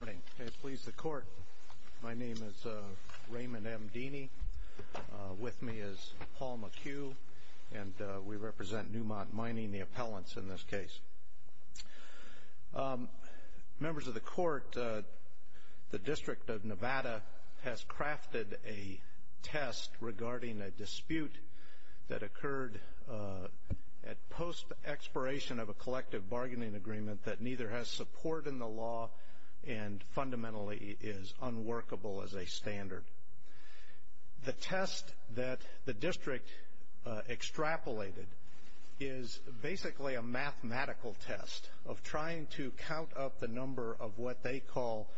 Good morning. May it please the Court, my name is Raymond M. Deeny. With me is Paul McHugh, and we represent Newmont Mining, the appellants in this case. Members of the Court, the District of Nevada has crafted a test regarding a dispute that occurred at post expiration of a collective bargaining agreement that neither has support in the law and fundamentally is unworkable as a standard. The test that the District extrapolated is basically a mathematical test of trying to count up the number of what they call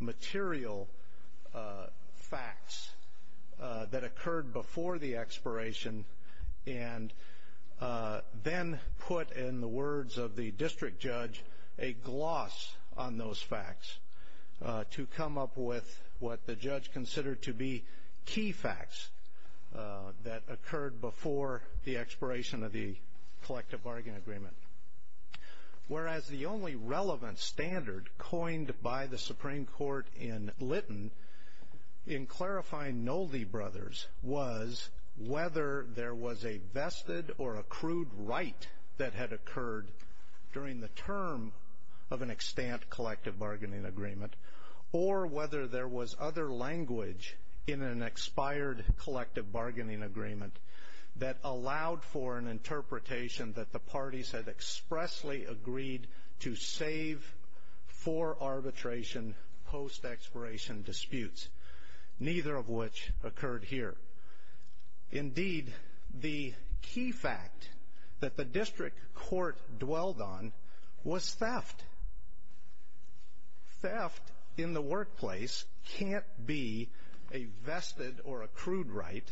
material facts that occurred before the expiration and then put in the words of the District Judge a gloss on those facts to come up with what the Judge considered to be key facts that occurred before the expiration of the collective bargaining agreement. Whereas the only relevant standard coined by the Supreme Court in Lytton in clarifying Nolde brothers was whether there was a vested or accrued right that had occurred during the term of an extant collective bargaining agreement or whether there was other language in an expired collective bargaining agreement that allowed for an interpretation that the parties had expressly agreed to save for arbitration post expiration disputes, neither of which occurred here. Indeed, the key fact that the District Court dwelled on was theft. Theft in the workplace can't be a vested or accrued right.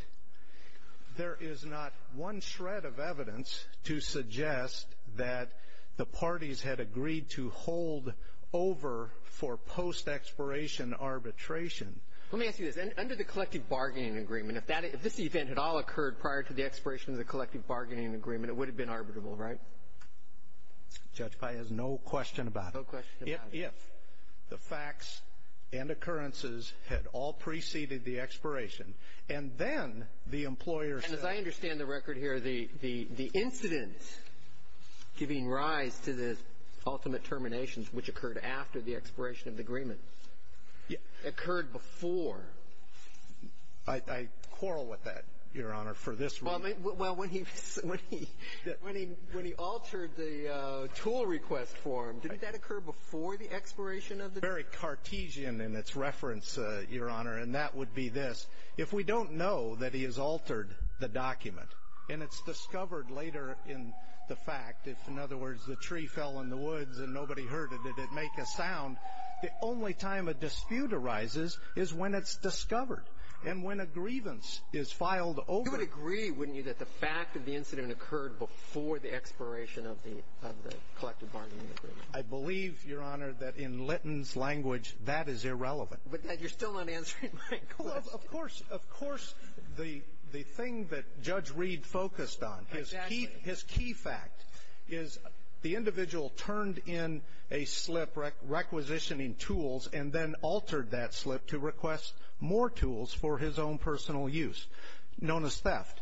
There is not one shred of evidence to suggest that the parties had agreed to hold over for post expiration arbitration. Let me ask you this. Under the collective bargaining agreement, if this event had all occurred prior to the expiration of the collective bargaining agreement, it would have been arbitrable, right? Judge Pye has no question about it. No question about it. If the facts and occurrences had all preceded the expiration and then the employer said… And as I understand the record here, the incident giving rise to the ultimate terminations, which occurred after the expiration of the agreement, occurred before. I quarrel with that, Your Honor, for this reason. Well, when he altered the tool request form, did that occur before the expiration of the document? Very Cartesian in its reference, Your Honor, and that would be this. If we don't know that he has altered the document and it's discovered later in the fact, if, in other words, the tree fell in the woods and nobody heard it, did it make a sound, the only time a dispute arises is when it's discovered and when a grievance is filed over it. You would agree, wouldn't you, that the fact that the incident occurred before the expiration of the collective bargaining agreement? I believe, Your Honor, that in Litton's language, that is irrelevant. But you're still not answering my question. Of course. Of course. The thing that Judge Reed focused on, his key fact, is the individual turned in a slip requisitioning tools and then altered that slip to request more tools for his own personal use, known as theft.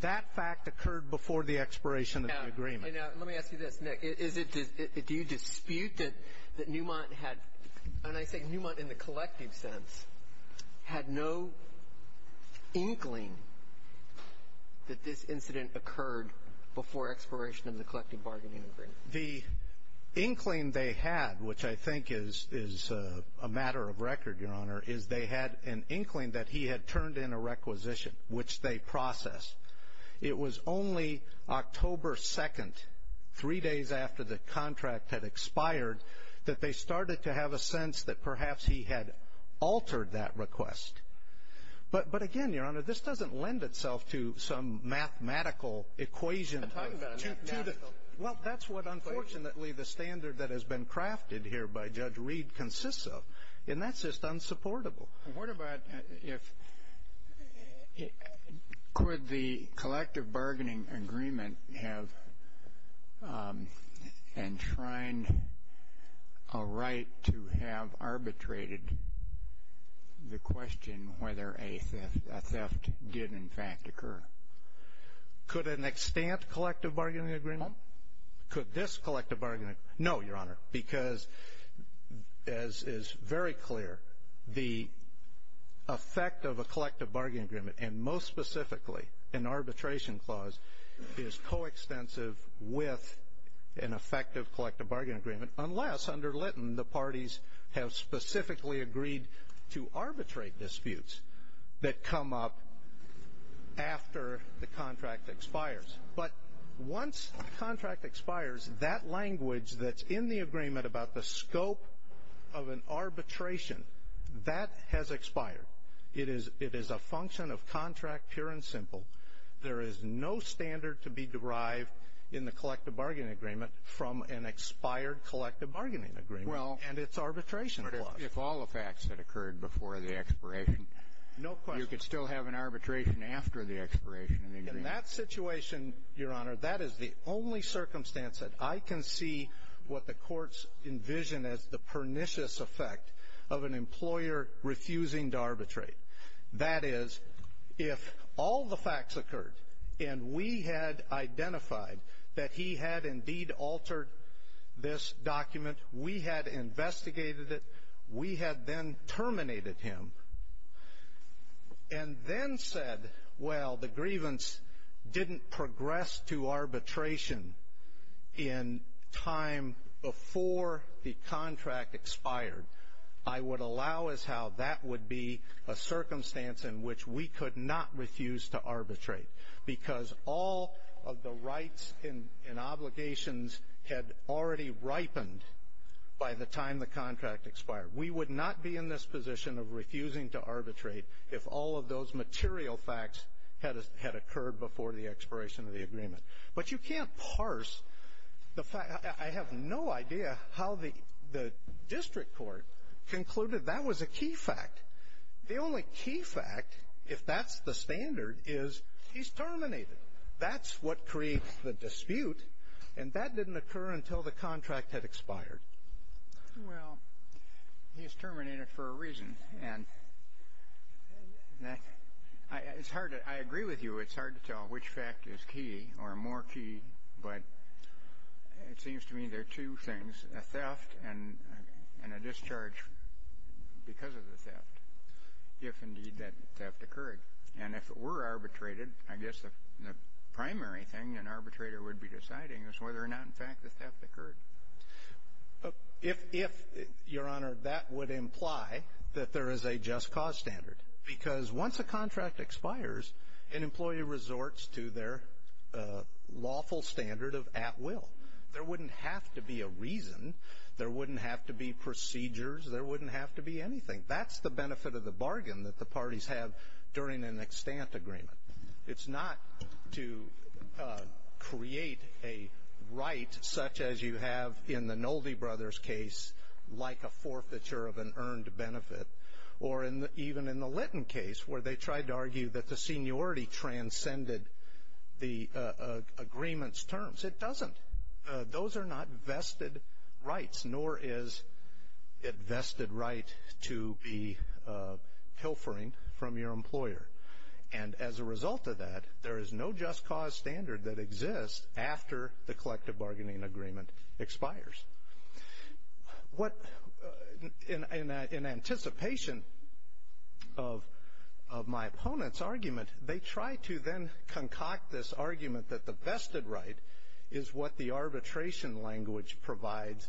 That fact occurred before the expiration of the agreement. Now, let me ask you this, Nick. Do you dispute that Newmont had, and I say Newmont in the collective sense, had no inkling that this incident occurred before expiration of the collective bargaining agreement? The inkling they had, which I think is a matter of record, Your Honor, is they had an inkling that he had turned in a requisition, which they processed. It was only October 2nd, three days after the contract had expired, that they started to have a sense that perhaps he had altered that request. But, again, Your Honor, this doesn't lend itself to some mathematical equation. Well, that's what, unfortunately, the standard that has been crafted here by Judge Reed consists of, and that's just unsupportable. What about if, could the collective bargaining agreement have enshrined a right to have arbitrated the question whether a theft did, in fact, occur? Could an extant collective bargaining agreement? Could this collective bargaining agreement? No, Your Honor, because, as is very clear, the effect of a collective bargaining agreement, and most specifically an arbitration clause, is coextensive with an effective collective bargaining agreement, unless, under Lytton, the parties have specifically agreed to arbitrate disputes that come up after the contract expires. But once the contract expires, that language that's in the agreement about the scope of an arbitration, that has expired. It is a function of contract, pure and simple. There is no standard to be derived in the collective bargaining agreement from an expired collective bargaining agreement and its arbitration clause. But if all the facts had occurred before the expiration? No question. You could still have an arbitration after the expiration of the agreement. In that situation, Your Honor, that is the only circumstance that I can see what the courts envision as the pernicious effect of an employer refusing to arbitrate. That is, if all the facts occurred and we had identified that he had indeed altered this document, we had investigated it, we had then terminated him, and then said, well, the grievance didn't progress to arbitration in time before the contract expired, I would allow as how that would be a circumstance in which we could not refuse to arbitrate, because all of the rights and obligations had already ripened by the time the contract expired. We would not be in this position of refusing to arbitrate if all of those material facts had occurred before the expiration of the agreement. But you can't parse the fact. I have no idea how the district court concluded that was a key fact. The only key fact, if that's the standard, is he's terminated. That's what creates the dispute, and that didn't occur until the contract had expired. And I agree with you. It's hard to tell which fact is key or more key, but it seems to me there are two things, a theft and a discharge because of the theft, if indeed that theft occurred. And if it were arbitrated, I guess the primary thing an arbitrator would be deciding is whether or not, in fact, the theft occurred. If, Your Honor, that would imply that there is a just cause standard. Because once a contract expires, an employee resorts to their lawful standard of at will. There wouldn't have to be a reason. There wouldn't have to be procedures. There wouldn't have to be anything. That's the benefit of the bargain that the parties have during an extant agreement. It's not to create a right such as you have in the Nolde Brothers case, like a forfeiture of an earned benefit, or even in the Litton case where they tried to argue that the seniority transcended the agreement's terms. It doesn't. Those are not vested rights, nor is it vested right to be pilfering from your employer. And as a result of that, there is no just cause standard that exists after the collective bargaining agreement expires. In anticipation of my opponent's argument, they try to then concoct this argument that the vested right is what the arbitration language provides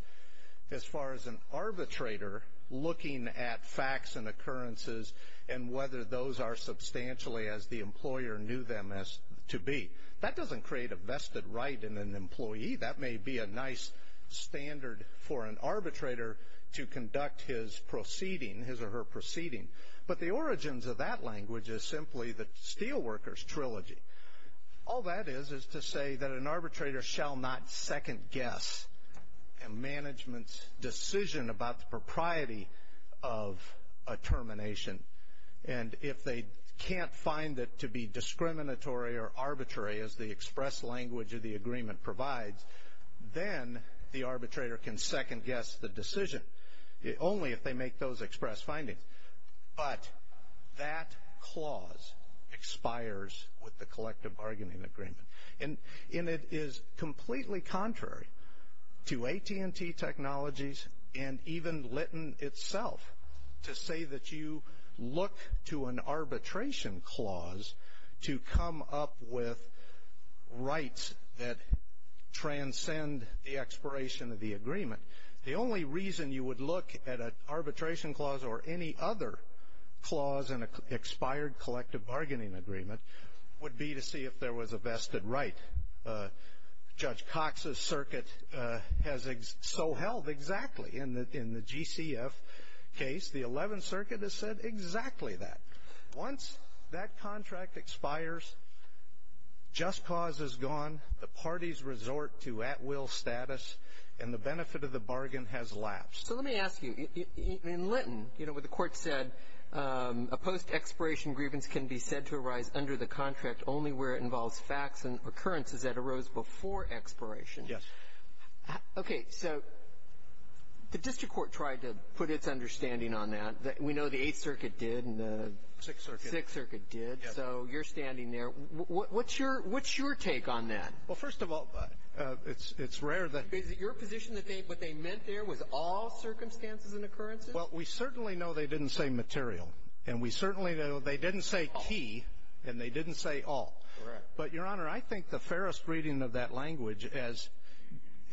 as far as an arbitrator looking at facts and occurrences and whether those are substantially as the employer knew them to be. That doesn't create a vested right in an employee. That may be a nice standard for an arbitrator to conduct his proceeding, his or her proceeding. But the origins of that language is simply the Steelworkers Trilogy. All that is is to say that an arbitrator shall not second-guess a management's decision about the propriety of a termination. And if they can't find it to be discriminatory or arbitrary as the express language of the agreement provides, then the arbitrator can second-guess the decision, only if they make those express findings. But that clause expires with the collective bargaining agreement. And it is completely contrary to AT&T Technologies and even Litton itself to say that you look to an arbitration clause to come up with rights that transcend the expiration of the agreement. The only reason you would look at an arbitration clause or any other clause in an expired collective bargaining agreement would be to see if there was a vested right. Judge Cox's circuit has so held exactly in the GCF case. The Eleventh Circuit has said exactly that. Once that contract expires, just cause is gone, the parties resort to at-will status, and the benefit of the bargain has lapsed. So let me ask you. In Litton, you know, what the Court said, a post-expiration grievance can be said to arise under the contract only where it involves facts and occurrences that arose before expiration. Yes. Okay. So the district court tried to put its understanding on that. We know the Eighth Circuit did and the Sixth Circuit did. Yes. So you're standing there. What's your take on that? Well, first of all, it's rare that — Is it your position that what they meant there was all circumstances and occurrences? Well, we certainly know they didn't say material, and we certainly know they didn't say key, and they didn't say all. Correct. But, Your Honor, I think the fairest reading of that language, as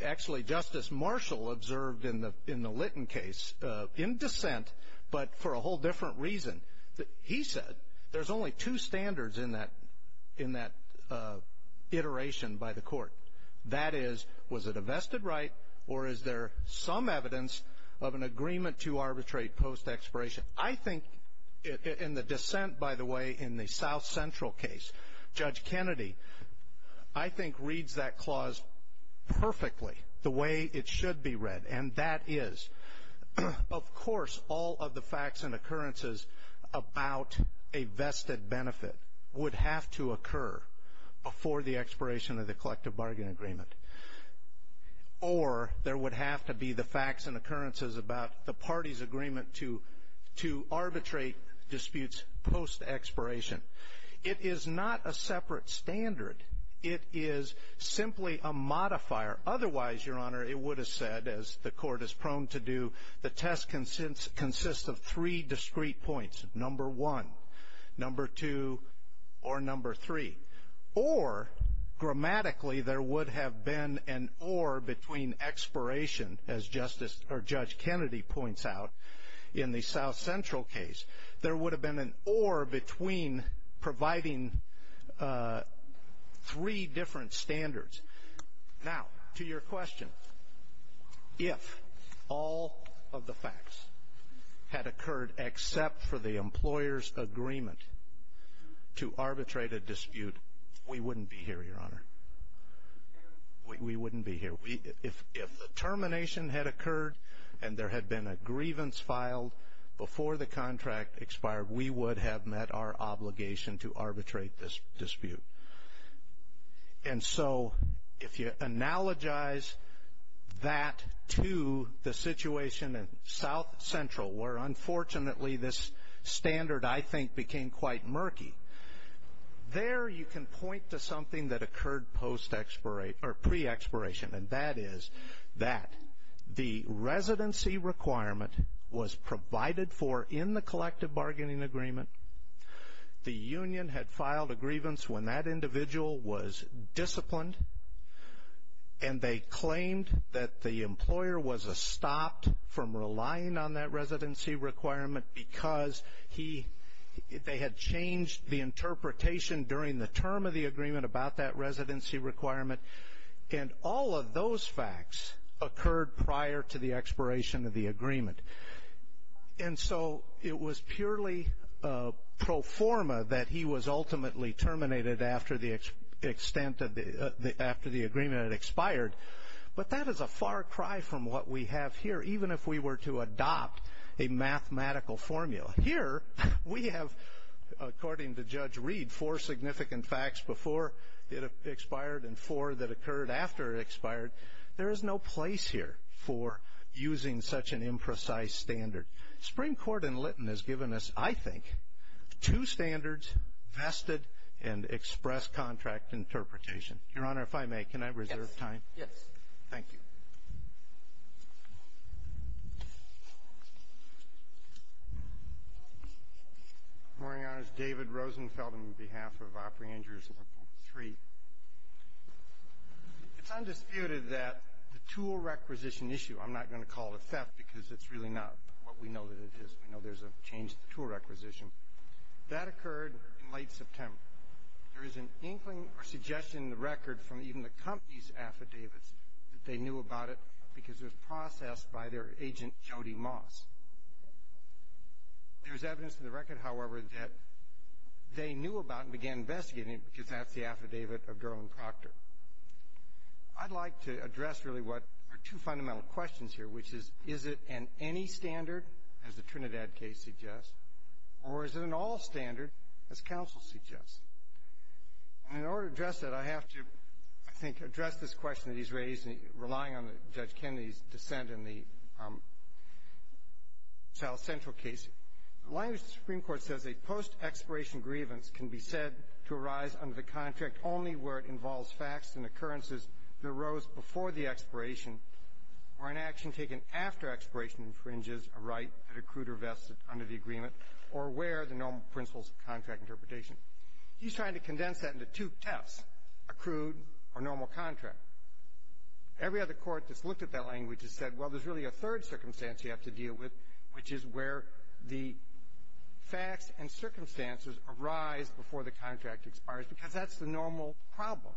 actually Justice Marshall observed in the Litton case, in dissent but for a whole different reason, he said there's only two standards in that iteration by the Court. That is, was it a vested right, or is there some evidence of an agreement to arbitrate post-expiration? I think, in the dissent, by the way, in the South Central case, Judge Kennedy, I think reads that clause perfectly the way it should be read, and that is, of course, all of the facts and occurrences about a vested benefit would have to occur before the expiration of the collective bargain agreement. Or there would have to be the facts and occurrences about the party's agreement to arbitrate disputes post-expiration. It is not a separate standard. It is simply a modifier. Otherwise, Your Honor, it would have said, as the Court is prone to do, the test consists of three discrete points, number one, number two, or number three. Or, grammatically, there would have been an or between expiration, as Justice or Judge Kennedy points out in the South Central case. There would have been an or between providing three different standards. Now, to your question, if all of the facts had occurred except for the employer's agreement to arbitrate a dispute, we wouldn't be here, Your Honor. We wouldn't be here. If the termination had occurred and there had been a grievance filed before the contract expired, we would have met our obligation to arbitrate this dispute. And so if you analogize that to the situation in South Central where, unfortunately, this standard, I think, became quite murky, there you can point to something that occurred pre-expiration, and that is that the residency requirement was provided for in the collective bargaining agreement. The union had filed a grievance when that individual was disciplined, and they claimed that the employer was stopped from relying on that residency requirement because they had changed the interpretation during the term of the agreement about that residency requirement. And all of those facts occurred prior to the expiration of the agreement. And so it was purely pro forma that he was ultimately terminated after the agreement had expired. But that is a far cry from what we have here, even if we were to adopt a mathematical formula. Here we have, according to Judge Reed, four significant facts before it expired and four that occurred after it expired. There is no place here for using such an imprecise standard. Supreme Court in Lytton has given us, I think, two standards, vested and express contract interpretation. Your Honor, if I may, can I reserve time? Yes. Thank you. Good morning, Your Honor. This is David Rosenfeld on behalf of Operating Injuries, Local 3. It's undisputed that the tool requisition issue, I'm not going to call it theft because it's really not what we know that it is, we know there's a change to the tool requisition, that occurred in late September. There is an inkling or suggestion in the record from even the company's affidavits that they knew about it because it was processed by their agent, Jody Moss. There's evidence in the record, however, that they knew about it and began investigating it because that's the affidavit of Darlene Proctor. I'd like to address really what are two fundamental questions here, which is, is it an any standard, as the Trinidad case suggests, or is it an all standard, as counsel suggests? And in order to address that, I have to, I think, address this question that he's raised, relying on Judge Kennedy's dissent in the South Central case. The language of the Supreme Court says a post-expiration grievance can be said to arise under the contract only where it involves facts and occurrences that arose before the expiration or an action taken after expiration infringes a right that accrued or vested under the agreement or where the normal principles of contract interpretation. He's trying to condense that into two tests, accrued or normal contract. Every other court that's looked at that language has said, well, there's really a third circumstance you have to deal with, which is where the facts and circumstances arise before the contract expires, because that's the normal problem.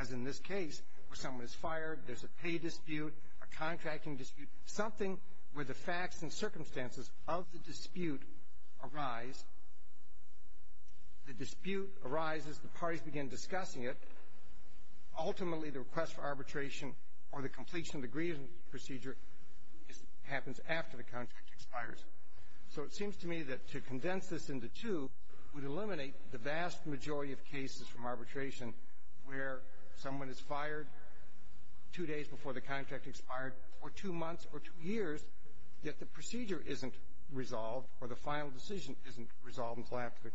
As in this case, where someone is fired, there's a pay dispute, a contracting dispute, something where the facts and circumstances of the dispute arise, the dispute arises, the parties begin discussing it, ultimately the request for arbitration or the completion of the grievance procedure happens after the contract expires. So it seems to me that to condense this into two would eliminate the vast majority of cases from arbitration where someone is fired two days before the contract expired or two months or two years, yet the procedure isn't resolved or the final decision isn't resolved until after the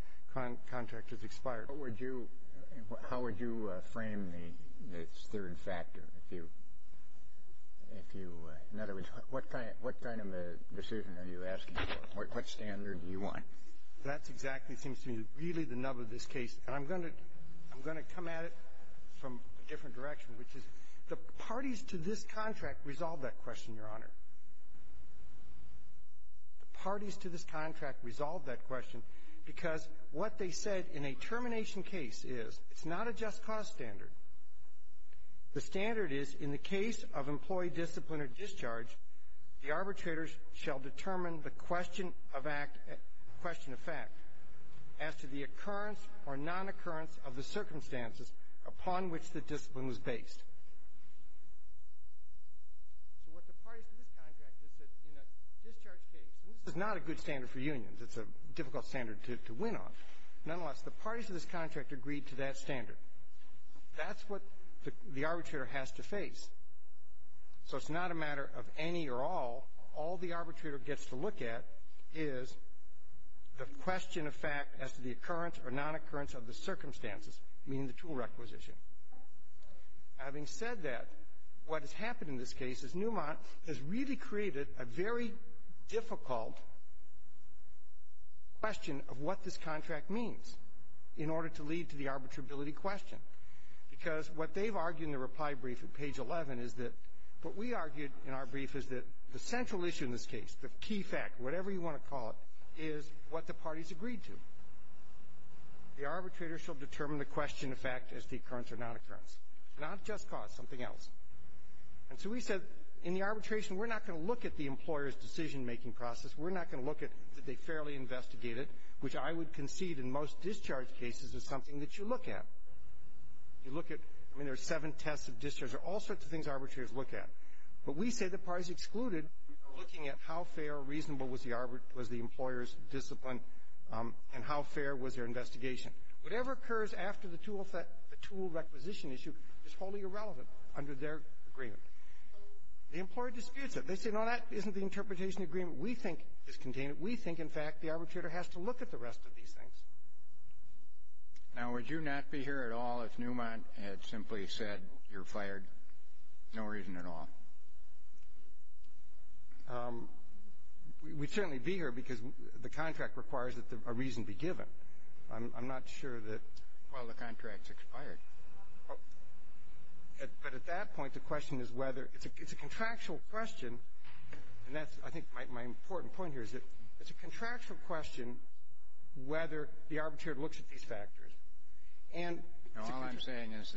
contract has expired. What would you – how would you frame this third factor? If you – in other words, what kind of a decision are you asking for? What standard do you want? That exactly seems to me to be really the nub of this case. And I'm going to – I'm going to come at it from a different direction, which is the parties to this contract resolved that question, Your Honor. The parties to this contract resolved that question because what they said in a termination case is it's not a just cause standard. The standard is in the case of employee discipline or discharge, the arbitrators shall determine the question of fact as to the occurrence or non-occurrence of the circumstances upon which the discipline was based. So what the parties to this contract did in a discharge case – and this is not a good standard for unions. It's a difficult standard to win on. Nonetheless, the parties to this contract agreed to that standard. That's what the arbitrator has to face. So it's not a matter of any or all. All the arbitrator gets to look at is the question of fact as to the occurrence or non-occurrence of the circumstances, meaning the tool requisition. Having said that, what has happened in this case is Newmont has really created a very difficult question of what this contract means in order to lead to the arbitrability question. Because what they've argued in the reply brief at page 11 is that – what we argued in our brief is that the central issue in this case, the key fact, whatever you want to call it, is what the parties agreed to. The arbitrator shall determine the question of fact as to the occurrence or non-occurrence, not just cause, something else. And so we said in the arbitration, we're not going to look at the employer's decision-making process. We're not going to look at that they fairly investigated, which I would concede in most discharge cases is something that you look at. You look at – I mean, there are seven tests of discharge. There are all sorts of things arbitrators look at. But we say the parties excluded are looking at how fair or reasonable was the employer's discipline and how fair was their investigation. Whatever occurs after the tool requisition issue is wholly irrelevant under their agreement. The employer disputes it. They say, no, that isn't the interpretation agreement we think is contained. We think, in fact, the arbitrator has to look at the rest of these things. Now, would you not be here at all if Newmont had simply said you're fired, no reason at all? We'd certainly be here because the contract requires that a reason be given. I'm not sure that – Well, the contract's expired. But at that point, the question is whether – it's a contractual question, and that's, I think, my important point here is that it's a contractual question whether the arbitrator looks at these factors. And it's a contractual question. All I'm saying is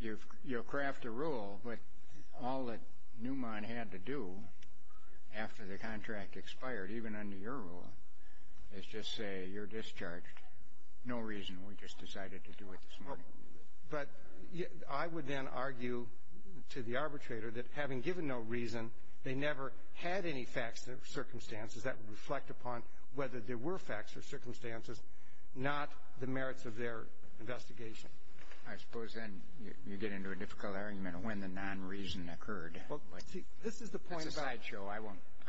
that you'll craft a rule, but all that Newmont had to do after the contract expired, even under your rule, is just say you're discharged, no reason. We just decided to do it this morning. But I would then argue to the arbitrator that, having given no reason, they never had any facts or circumstances that would reflect upon whether there were facts or circumstances, not the merits of their investigation. I suppose then you get into a difficult argument of when the nonreason occurred. Well, see, this is the point about – That's a sideshow. I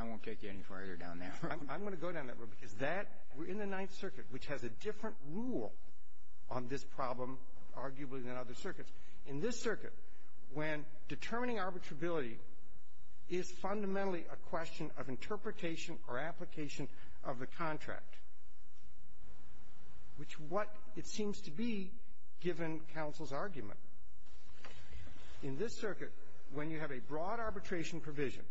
won't take you any further down that road. I'm going to go down that road because that – we're in the Ninth Circuit, which has a different rule on this problem, arguably, than other circuits. In this circuit, when determining arbitrability is fundamentally a question of interpretation or application of the contract, which what it seems to be, given counsel's argument. In this circuit, when you have a broad arbitration provision,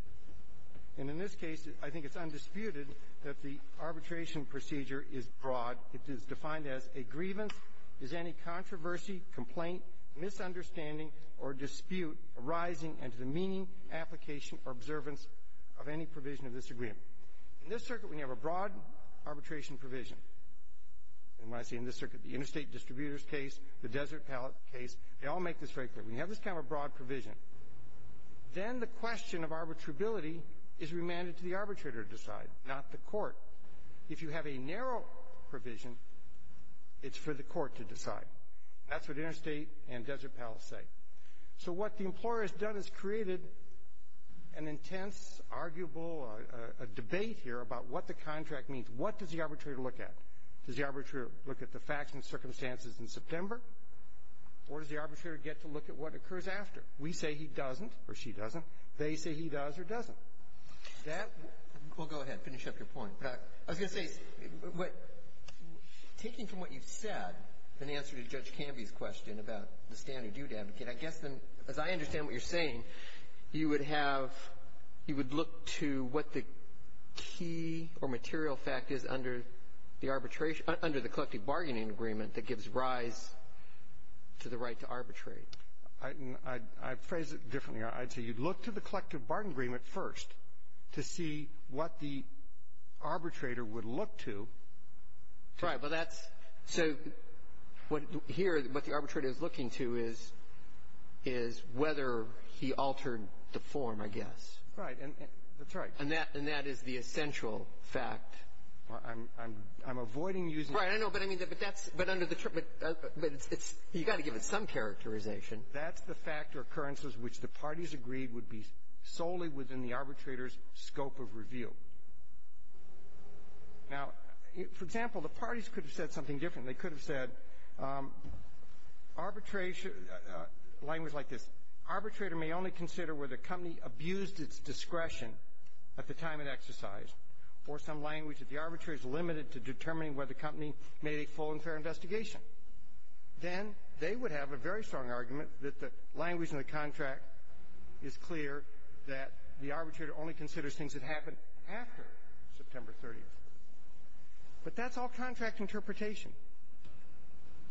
and in this case, I think it's undisputed that the arbitration procedure is broad. It is defined as a grievance is any controversy, complaint, misunderstanding, or dispute arising into the meaning, application, or observance of any provision of this agreement. In this circuit, when you have a broad arbitration provision, and when I say in this circuit, the interstate distributors case, the desert pallet case, they all make this very clear. When you have this kind of a broad provision, then the question of arbitrability is remanded to the arbitrator to decide, not the court. If you have a narrow provision, it's for the court to decide. That's what interstate and desert pallet say. So what the employer has done is created an intense, arguable debate here about what the contract means. What does the arbitrator look at? Does the arbitrator look at the facts and circumstances in September? Or does the arbitrator get to look at what occurs after? We say he doesn't or she doesn't. They say he does or doesn't. That we'll go ahead, finish up your point. But I was going to say, taking from what you've said in answer to Judge Canby's question about the standard you'd advocate, I guess then, as I understand what you're saying, you would have you would look to what the key or material fact is under the arbitration under the collective bargaining agreement that gives rise to the right to arbitrate. I'd phrase it differently. I'd say you'd look to the collective bargaining agreement first to see what the arbitrator would look to. Right. But that's so what here, what the arbitrator is looking to is, is whether he altered the form, I guess. Right. And that's right. And that is the essential fact. I'm avoiding using it. Right. I know. But I mean, but that's under the term. But you've got to give it some characterization. That's the fact or occurrences which the parties agreed would be solely within the arbitrator's scope of review. Now, for example, the parties could have said something different. They could have said arbitration, language like this. Arbitrator may only consider whether the company abused its discretion at the time it exercised, or some language that the arbitrator is limited to determining whether the company made a full and fair investigation. Then they would have a very strong argument that the language in the contract is clear that the arbitrator only considers things that happen after September 30th. But that's all contract interpretation.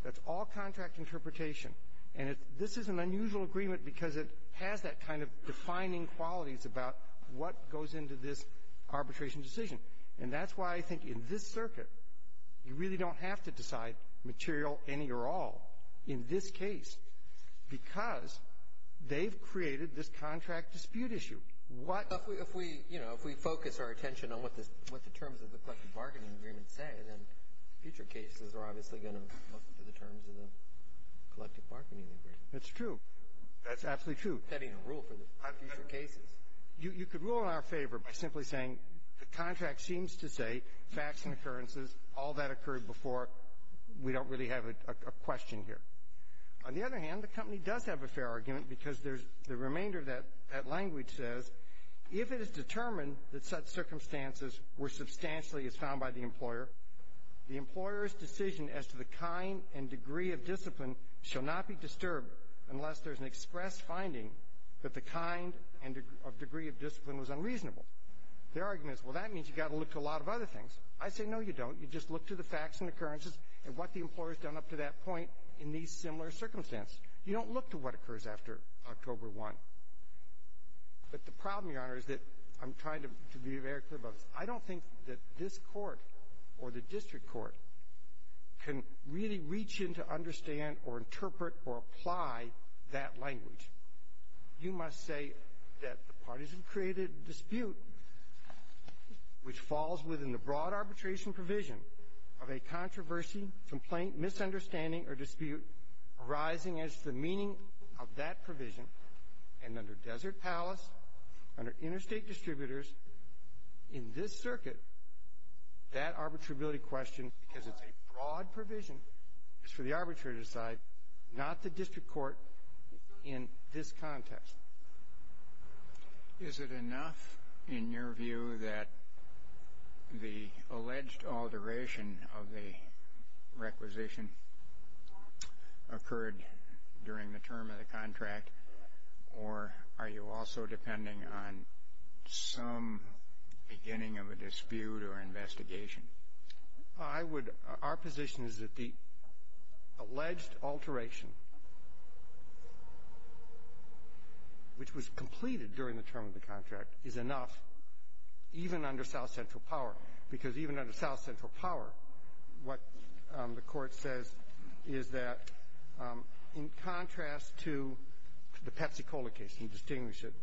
That's all contract interpretation. And this is an unusual agreement because it has that kind of defining qualities about what goes into this arbitration decision. And that's why I think in this circuit you really don't have to decide material any or all in this case because they've created this contract dispute issue. What — Well, if we, you know, if we focus our attention on what the terms of the collective bargaining agreement say, then future cases are obviously going to look to the terms of the collective bargaining agreement. That's true. That's absolutely true. Having a rule for the future cases. You could rule in our favor by simply saying the contract seems to say facts and occurrences. All that occurred before. We don't really have a question here. On the other hand, the company does have a fair argument because there's the remainder of that language says, if it is determined that such circumstances were substantially as found by the employer, the employer's decision as to the kind and degree of discipline shall not be disturbed unless there's an express finding that the kind and degree of discipline was unreasonable. Their argument is, well, that means you've got to look to a lot of other things. I say, no, you don't. You just look to the facts and occurrences and what the employer's done up to that point in these similar circumstances. You don't look to what occurs after October 1. But the problem, Your Honor, is that I'm trying to be very clear about this. I don't think that this court or the district court can really reach in to understand or interpret or apply that language. You must say that the partisan created dispute which falls within the broad arbitration provision of a controversy, complaint, misunderstanding, or dispute arising as to the meaning of that That arbitrability question, because it's a broad provision, is for the arbitrator to decide, not the district court in this context. Is it enough in your view that the alleged alteration of the requisition occurred during the term of the contract, or are you also depending on some beginning of a dispute or investigation? Our position is that the alleged alteration, which was completed during the term of the contract, is enough, even under South Central Power, because even under South Central Power, what the Court says is that, in contrast to the Pepsi-Cola case, and distinguish it,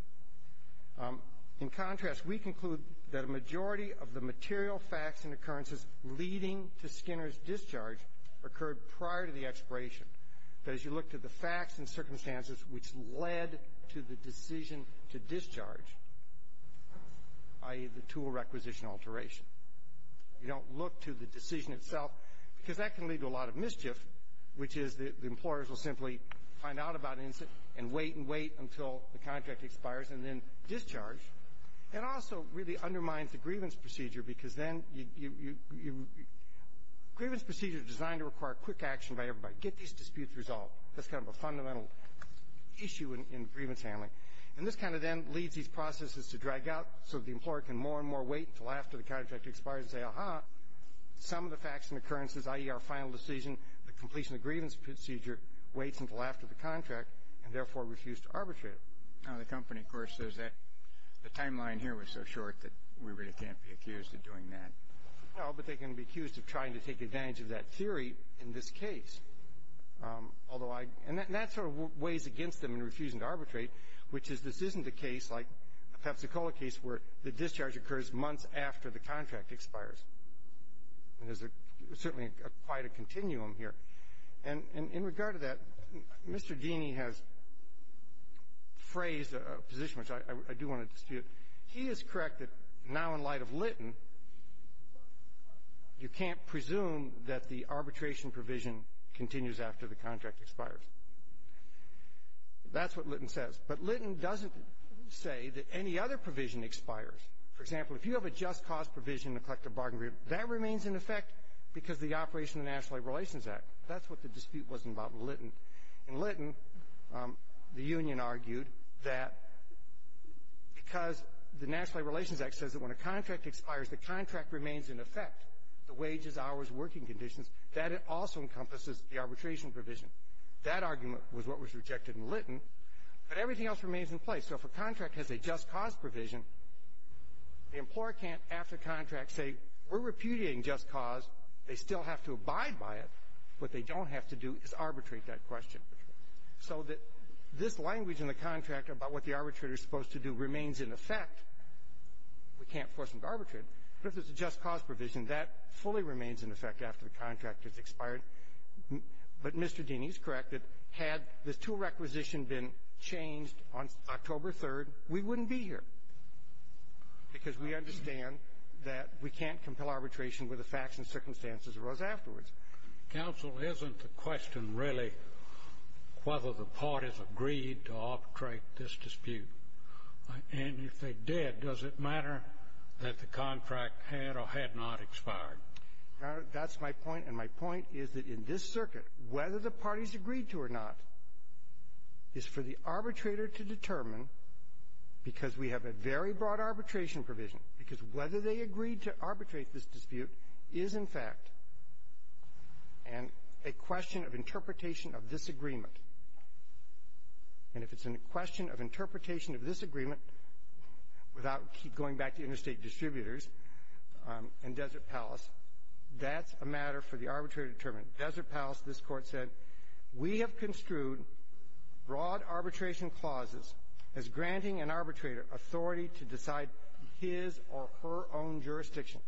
in contrast, we conclude that a majority of the material facts and occurrences leading to Skinner's discharge occurred prior to the expiration. But as you look to the facts and circumstances which led to the decision to discharge, i.e., the tool requisition alteration, you don't look to the decision itself, because that can lead to a lot of mischief, which is that the employers will simply find out about it and wait and wait until the contract expires and then discharge. It also really undermines the grievance procedure, because then you – grievance procedures are designed to require quick action by everybody. Get these disputes resolved. That's kind of a fundamental issue in grievance handling. And this kind of then leads these processes to drag out so the employer can more and more wait until after the contract expires and say, aha, some of the facts and occurrences, i.e., our final decision, the completion of the grievance procedure, waits until after the contract and therefore refused to arbitrate it. The company, of course, says that the timeline here was so short that we really can't be accused of doing that. No, but they can be accused of trying to take advantage of that theory in this case. Although I – and that sort of weighs against them in refusing to arbitrate, which is this isn't a case like the Pepsi-Cola case where the discharge occurs months after the contract expires. There's certainly quite a continuum here. And in regard to that, Mr. Deany has phrased a position which I do want to dispute. He is correct that now in light of Litton, you can't presume that the arbitration provision continues after the contract expires. That's what Litton says. But Litton doesn't say that any other provision expires. For example, if you have a just cause provision in a collective bargaining agreement, that remains in effect because of the operation of the National Labor Relations Act. That's what the dispute was about in Litton. In Litton, the union argued that because the National Labor Relations Act says that when a contract expires, the contract remains in effect, the wages, hours, working conditions, that it also encompasses the arbitration provision. That argument was what was rejected in Litton. But everything else remains in place. So if a contract has a just cause provision, the employer can't, after contract, say, we're repudiating just cause. They still have to abide by it. What they don't have to do is arbitrate that question. So that this language in the contract about what the arbitrator is supposed to do remains in effect. We can't force them to arbitrate. But if it's a just cause provision, that fully remains in effect after the contract has expired. But Mr. Deney is correct that had the tool requisition been changed on October 3rd, we wouldn't be here. Because we understand that we can't compel arbitration where the facts and circumstances arose afterwards. Counsel, isn't the question really whether the parties agreed to arbitrate this dispute? And if they did, does it matter that the contract had or had not expired? Your Honor, that's my point. And my point is that in this circuit, whether the parties agreed to or not is for the arbitrator to determine, because we have a very broad arbitration provision, because whether they agreed to arbitrate this dispute is, in fact, a question of interpretation of this agreement. And if it's a question of interpretation of this agreement, without going back to interstate distributors and Desert Palace, that's a matter for the arbitrator to determine. Desert Palace, this Court said, we have construed broad arbitration clauses as granting an arbitrator authority to decide his or her own jurisdiction.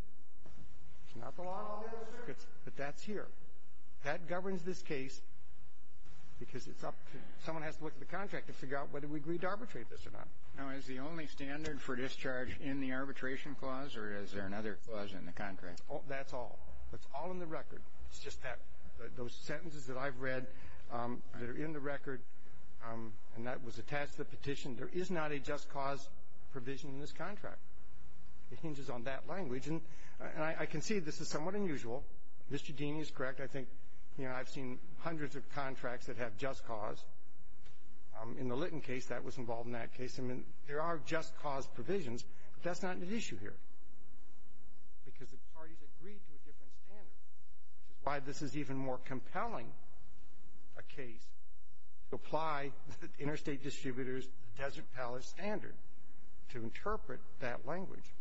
It's not the law of the district, but that's here. That governs this case because it's up to you. Someone has to look at the contract and figure out whether we agreed to arbitrate this or not. Now, is the only standard for discharge in the arbitration clause, or is there another clause in the contract? That's all. It's all in the record. It's just that those sentences that I've read, they're in the record, and that was attached to the petition. There is not a just cause provision in this contract. It hinges on that language. And I can see this is somewhat unusual. Mr. Deeny is correct. I think, you know, I've seen hundreds of contracts that have just cause. In the Litton case, that was involved in that case. I mean, there are just cause provisions, but that's not an issue here because the parties agreed to a different standard, which is why this is even more compelling a case to apply the interstate distributors' Desert Palace standard to interpret that language.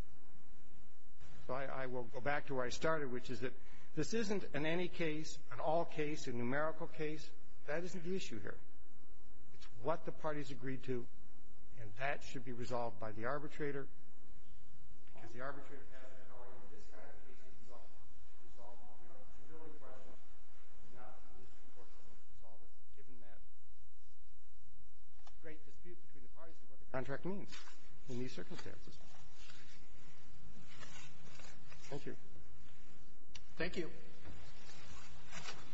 So I will go back to where I started, which is that this isn't an any case, an all case, a numerical case. That isn't the issue here. It's what the parties agreed to, and that should be resolved by the arbitrator because the arbitrator has the authority in this kind of case to resolve it. The only question is not how this court is going to resolve it, given that great dispute between the parties and what the contract means in these circumstances. Thank you. Thank you.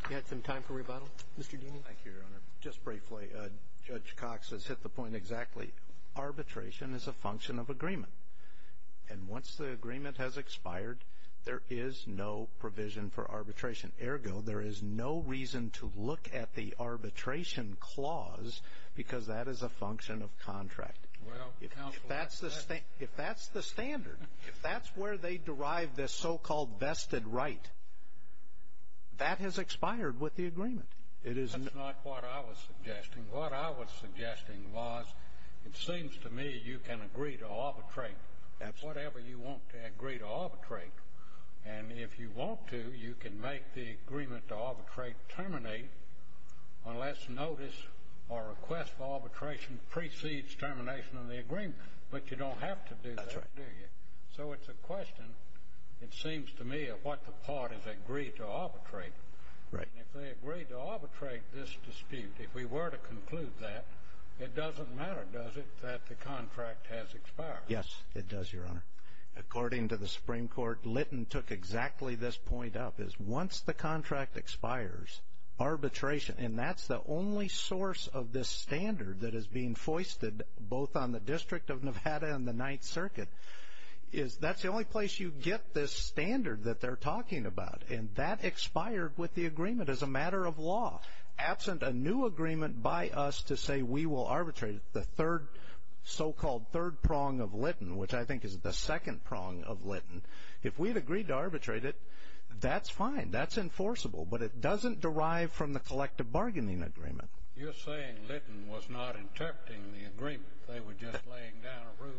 We have some time for rebuttal. Mr. Deeny. Thank you, Your Honor. Just briefly, Judge Cox has hit the point exactly. Arbitration is a function of agreement, and once the agreement has expired, there is no provision for arbitration. Ergo, there is no reason to look at the arbitration clause because that is a function of contract. If that's the standard, if that's where they derive this so-called vested right, that has expired with the agreement. That's not what I was suggesting. What I was suggesting was it seems to me you can agree to arbitrate whatever you want to agree to arbitrate. And if you want to, you can make the agreement to arbitrate terminate unless notice or request for arbitration precedes termination of the agreement. But you don't have to do that, do you? That's right. So it's a question, it seems to me, of what the parties agree to arbitrate. Right. And if they agree to arbitrate this dispute, if we were to conclude that, it doesn't matter, does it, that the contract has expired? Yes, it does, Your Honor. According to the Supreme Court, Litton took exactly this point up, which is once the contract expires, arbitration, and that's the only source of this standard that is being foisted both on the District of Nevada and the Ninth Circuit, is that's the only place you get this standard that they're talking about. And that expired with the agreement as a matter of law. Absent a new agreement by us to say we will arbitrate the third so-called third prong of Litton, which I think is the second prong of Litton, if we had agreed to arbitrate it, that's fine. That's enforceable. But it doesn't derive from the collective bargaining agreement. You're saying Litton was not interpreting the agreement. They were just laying down a rule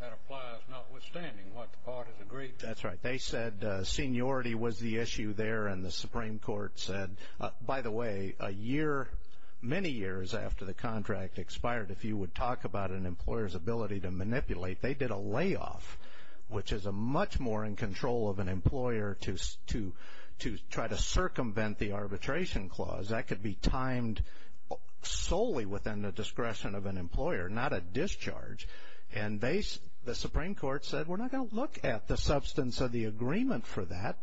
that applies notwithstanding what the parties agreed to. That's right. They said seniority was the issue there, and the Supreme Court said, by the way, a year, many years after the contract expired, if you would talk about an employer's ability to manipulate, they did a layoff, which is much more in control of an employer to try to circumvent the arbitration clause. That could be timed solely within the discretion of an employer, not a discharge. And the Supreme Court said we're not going to look at the substance of the agreement for that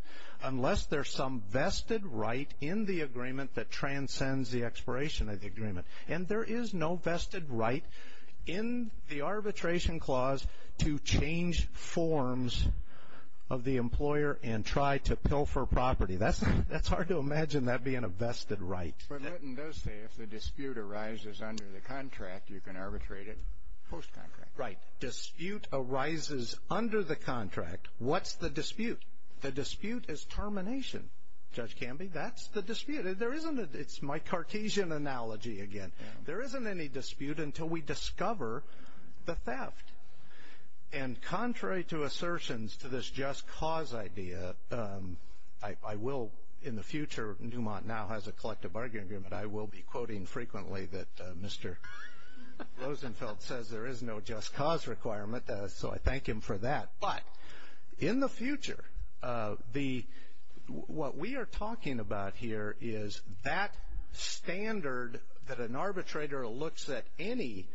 unless there's some vested right in the agreement that transcends the expiration of the agreement. And there is no vested right in the arbitration clause to change forms of the employer and try to pilfer property. That's hard to imagine that being a vested right. But Litton does say if the dispute arises under the contract, you can arbitrate it post-contract. Right. Dispute arises under the contract. What's the dispute? The dispute is termination, Judge Camby. That's the dispute. It's my Cartesian analogy again. There isn't any dispute until we discover the theft. And contrary to assertions to this just cause idea, I will in the future, Newmont now has a collective bargaining agreement, I will be quoting frequently that Mr. Rosenfeld says there is no just cause requirement, so I thank him for that. But in the future, what we are talking about here is that standard that an arbitrator looks at any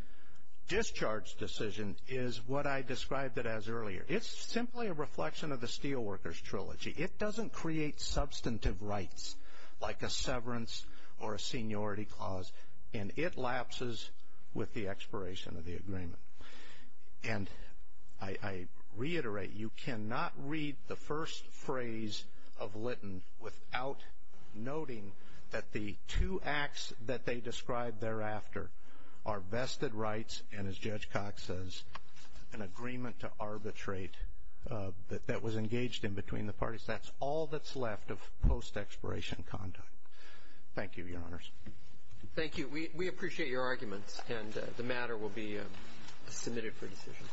discharge decision is what I described it as earlier. It's simply a reflection of the Steelworkers Trilogy. It doesn't create substantive rights like a severance or a seniority clause, and it lapses with the expiration of the agreement. And I reiterate, you cannot read the first phrase of Lytton without noting that the two acts that they described thereafter are vested rights and, as Judge Cox says, an agreement to arbitrate that was engaged in between the parties. That's all that's left of post-expiration conduct. Thank you, Your Honors. Thank you. We appreciate your arguments, and the matter will be submitted for decision.